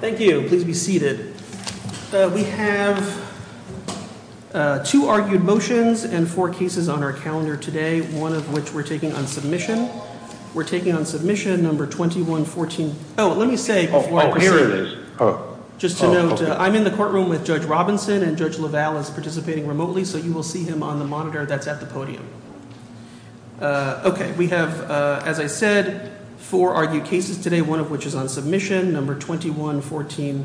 Thank you. Please be seated. We have two argued motions and four cases on our calendar today, one of which we're taking on submission. We're taking on submission number 2114. Oh, let me say, just to note, I'm in the courtroom with Judge Robinson and Judge LaValle is participating remotely, so you will see him on the monitor that's at the podium. OK, we have, as I said, four argued cases today, one of which is on submission number 21 14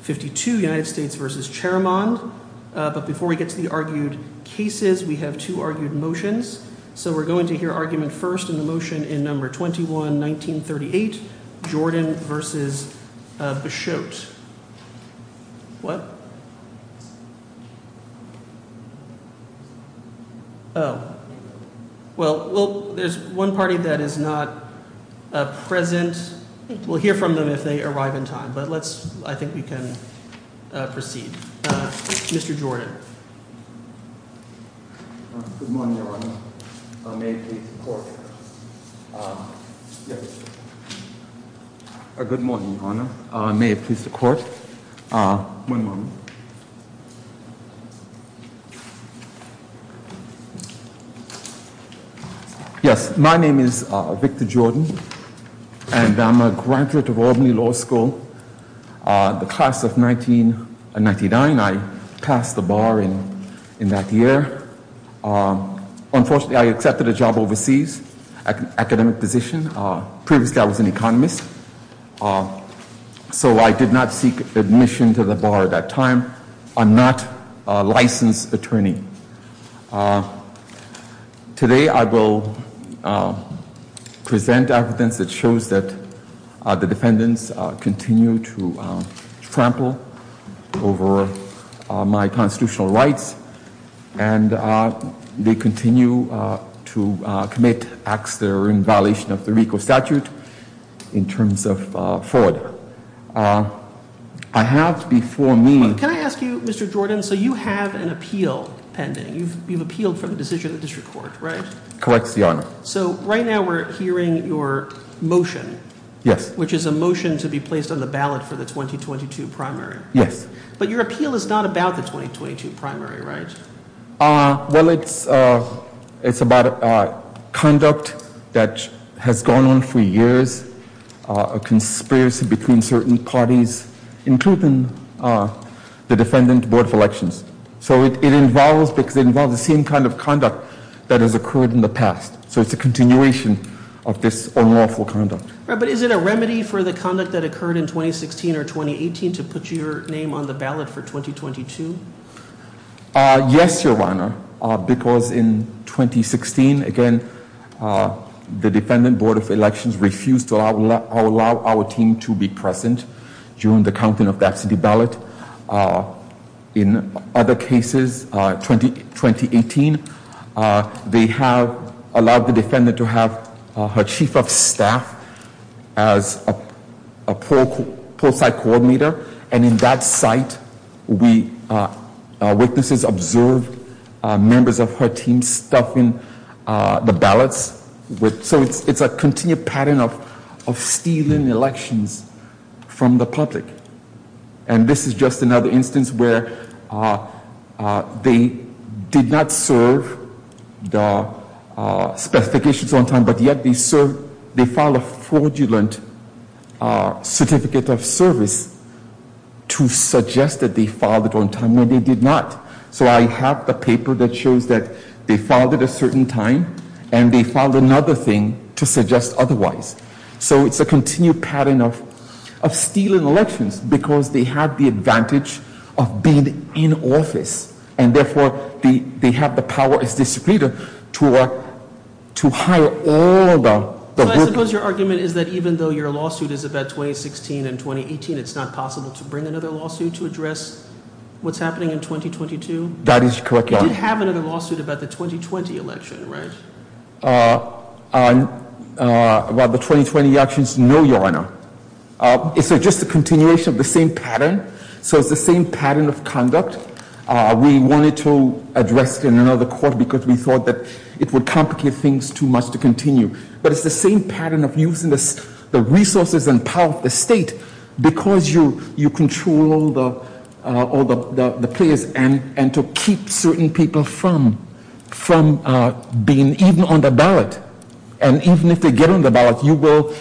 52 United States versus chairman. But before we get to the argued cases, we have to argued motions. So we're going to hear argument first in the motion in number 21 1938 Jordan versus the show. What? Oh, well, there's one party that is not present. We'll hear from them if they arrive in time. But let's I think we can proceed. Mr Jordan. I'm a court. Good morning. May it please the court. One moment. Yes. My name is Victor Jordan and I'm a graduate of Albany Law School. The class of 1999, I passed the bar in that year. Unfortunately, I accepted a job overseas academic position. Previously, I was an economist. So I did not seek admission to the bar at that time. I'm not a licensed attorney. Today, I will present evidence that shows that the defendants continue to trample over my constitutional rights and they continue to commit acts that are in violation of the RICO statute in terms of fraud. I have before me. Can I ask you, Mr. Jordan? So you have an appeal pending. You've appealed for the decision of the district court, right? Corrects the honor. So right now we're hearing your motion. Yes. Which is a motion to be placed on the ballot for the 2022 primary. Yes. But your appeal is not about the 2022 primary, right? Well, it's about conduct that has gone on for years, a conspiracy between certain parties, including the Defendant Board of Elections. So it involves the same kind of conduct that has occurred in the past. So it's a continuation of this unlawful conduct. But is it a remedy for the conduct that occurred in 2016 or 2018 to put your name on the ballot for 2022? Yes, Your Honor, because in 2016, again, the Defendant Board of Elections refused to allow our team to be present during the counting of the absentee ballot. In other cases, 2018, they have allowed the defendant to have her chief of staff as a poll site coordinator. And in that site, witnesses observed members of her team stuffing the ballots. So it's a continued pattern of stealing elections from the public. And this is just another instance where they did not serve the specifications on time, but yet they filed a fraudulent certificate of service to suggest that they filed it on time when they did not. So I have the paper that shows that they filed it a certain time and they filed another thing to suggest otherwise. So it's a continued pattern of stealing elections because they have the advantage of being in office. And therefore, they have the power as a distributor to hire all the- So I suppose your argument is that even though your lawsuit is about 2016 and 2018, it's not possible to bring another lawsuit to address what's happening in 2022? That is correct, Your Honor. You did have another lawsuit about the 2020 election, right? Well, the 2020 election is no, Your Honor. It's just a continuation of the same pattern. So it's the same pattern of conduct. We wanted to address it in another court because we thought that it would complicate things too much to continue. But it's the same pattern of using the resources and power of the state because you control all the players and to keep certain people from being even on the ballot. And even if they get on the ballot, you will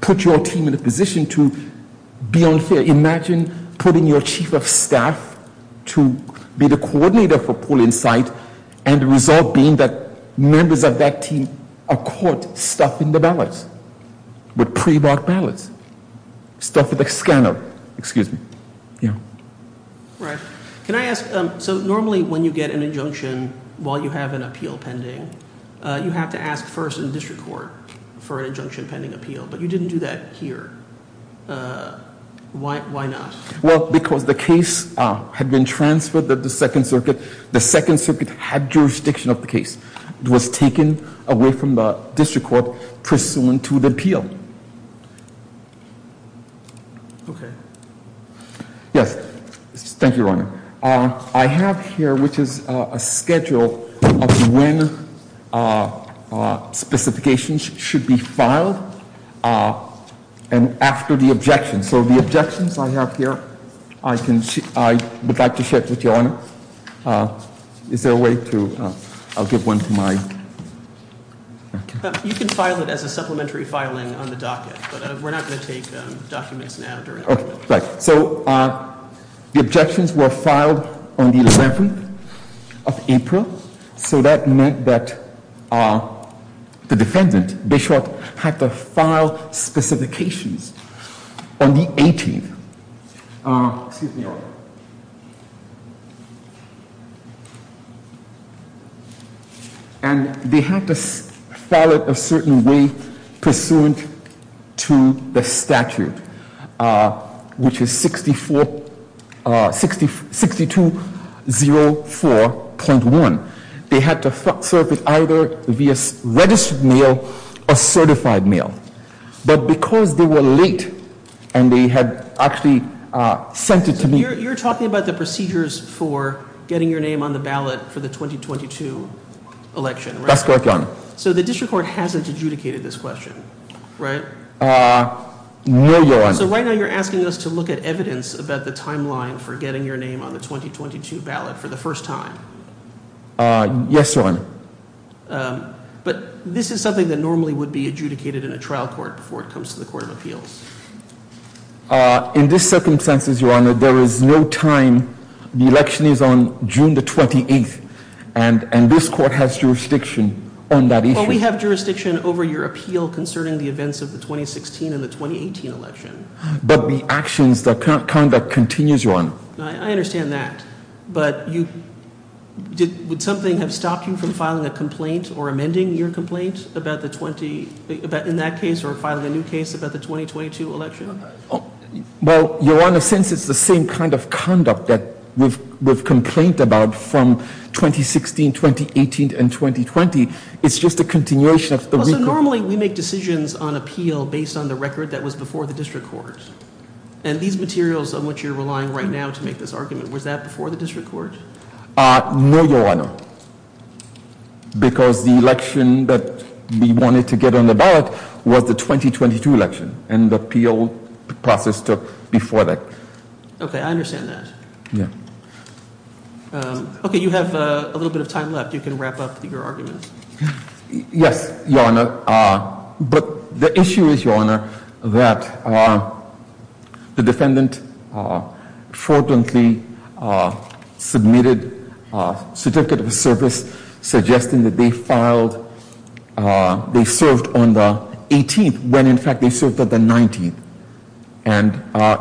put your team in a position to be unfair. Imagine putting your chief of staff to be the coordinator for polling site and the result being that members of that team are caught stuffing the ballots. With pre-vote ballots. Stuffing the scanner. Excuse me. Yeah. Right. Can I ask, so normally when you get an injunction while you have an appeal pending, you have to ask first in the district court for an injunction pending appeal. But you didn't do that here. Why not? Well, because the case had been transferred to the Second Circuit. The Second Circuit had jurisdiction of the case. It was taken away from the district court pursuant to the appeal. Thank you, Your Honor. I have here, which is a schedule of when specifications should be filed and after the objection. So the objections I have here, I would like to share with Your Honor. Is there a way to, I'll give one to my. You can file it as a supplementary filing on the docket, but we're not going to take documents now. So the objections were filed on the 11th of April. So that meant that the defendant, Bischoff, had to file specifications on the 18th. And they had to file it a certain way pursuant to the statute. Which is 6204.1. They had to serve it either via registered mail or certified mail. But because they were late and they had actually sent it to me. You're talking about the procedures for getting your name on the ballot for the 2022 election. That's correct, Your Honor. So the district court hasn't adjudicated this question, right? No, Your Honor. They're asking us to look at evidence about the timeline for getting your name on the 2022 ballot for the first time. Yes, Your Honor. But this is something that normally would be adjudicated in a trial court before it comes to the Court of Appeals. In this circumstances, Your Honor, there is no time. The election is on June the 28th. And this court has jurisdiction on that issue. Well, we have jurisdiction over your appeal concerning the events of the 2016 and the 2018 election. But the actions, the conduct continues, Your Honor. I understand that. But would something have stopped you from filing a complaint or amending your complaint in that case or filing a new case about the 2022 election? Well, Your Honor, since it's the same kind of conduct that we've complained about from 2016, 2018, and 2020, it's just a continuation of the... Well, so normally we make decisions on appeal based on the record that was before the district court. And these materials on which you're relying right now to make this argument, was that before the district court? No, Your Honor. Because the election that we wanted to get on the ballot was the 2022 election. And the appeal process took before that. Okay, I understand that. Yeah. Okay, you have a little bit of time left. You can wrap up your argument. Yes, Your Honor. But the issue is, Your Honor, that the defendant fraudulently submitted a certificate of service suggesting that they filed, they served on the 18th when in fact they served on the 19th. And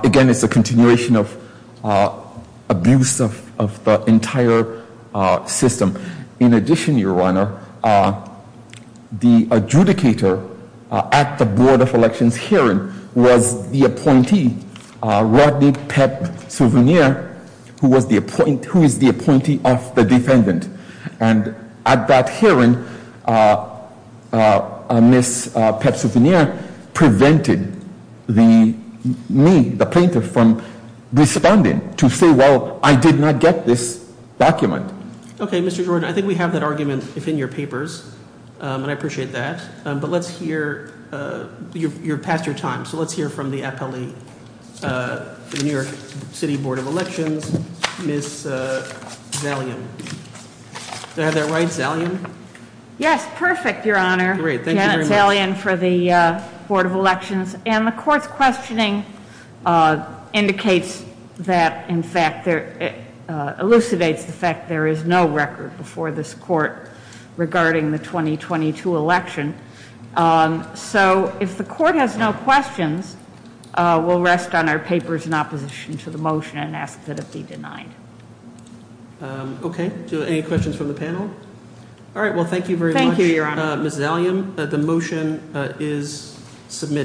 again, it's a continuation of abuse of the entire system. In addition, Your Honor, the adjudicator at the board of elections hearing was the appointee, Rodney Pep Souvenir, who is the appointee of the defendant. And at that hearing, Miss Pep Souvenir prevented me, the plaintiff, from responding to say, well, I did not get this document. Okay, Mr. Jordan, I think we have that argument within your papers, and I appreciate that. But let's hear, you're past your time, so let's hear from the appellee, the New York City Board of Elections, Miss Zalian. Did I have that right, Zalian? Yes, perfect, Your Honor. Great, thank you very much. Thank you, Miss Zalian, for the board of elections. And the court's questioning indicates that, in fact, elucidates the fact there is no record before this court regarding the 2022 election. So if the court has no questions, we'll rest on our papers in opposition to the motion and ask that it be denied. Okay, any questions from the panel? All right, well, thank you very much, Miss Zalian. The motion is submitted.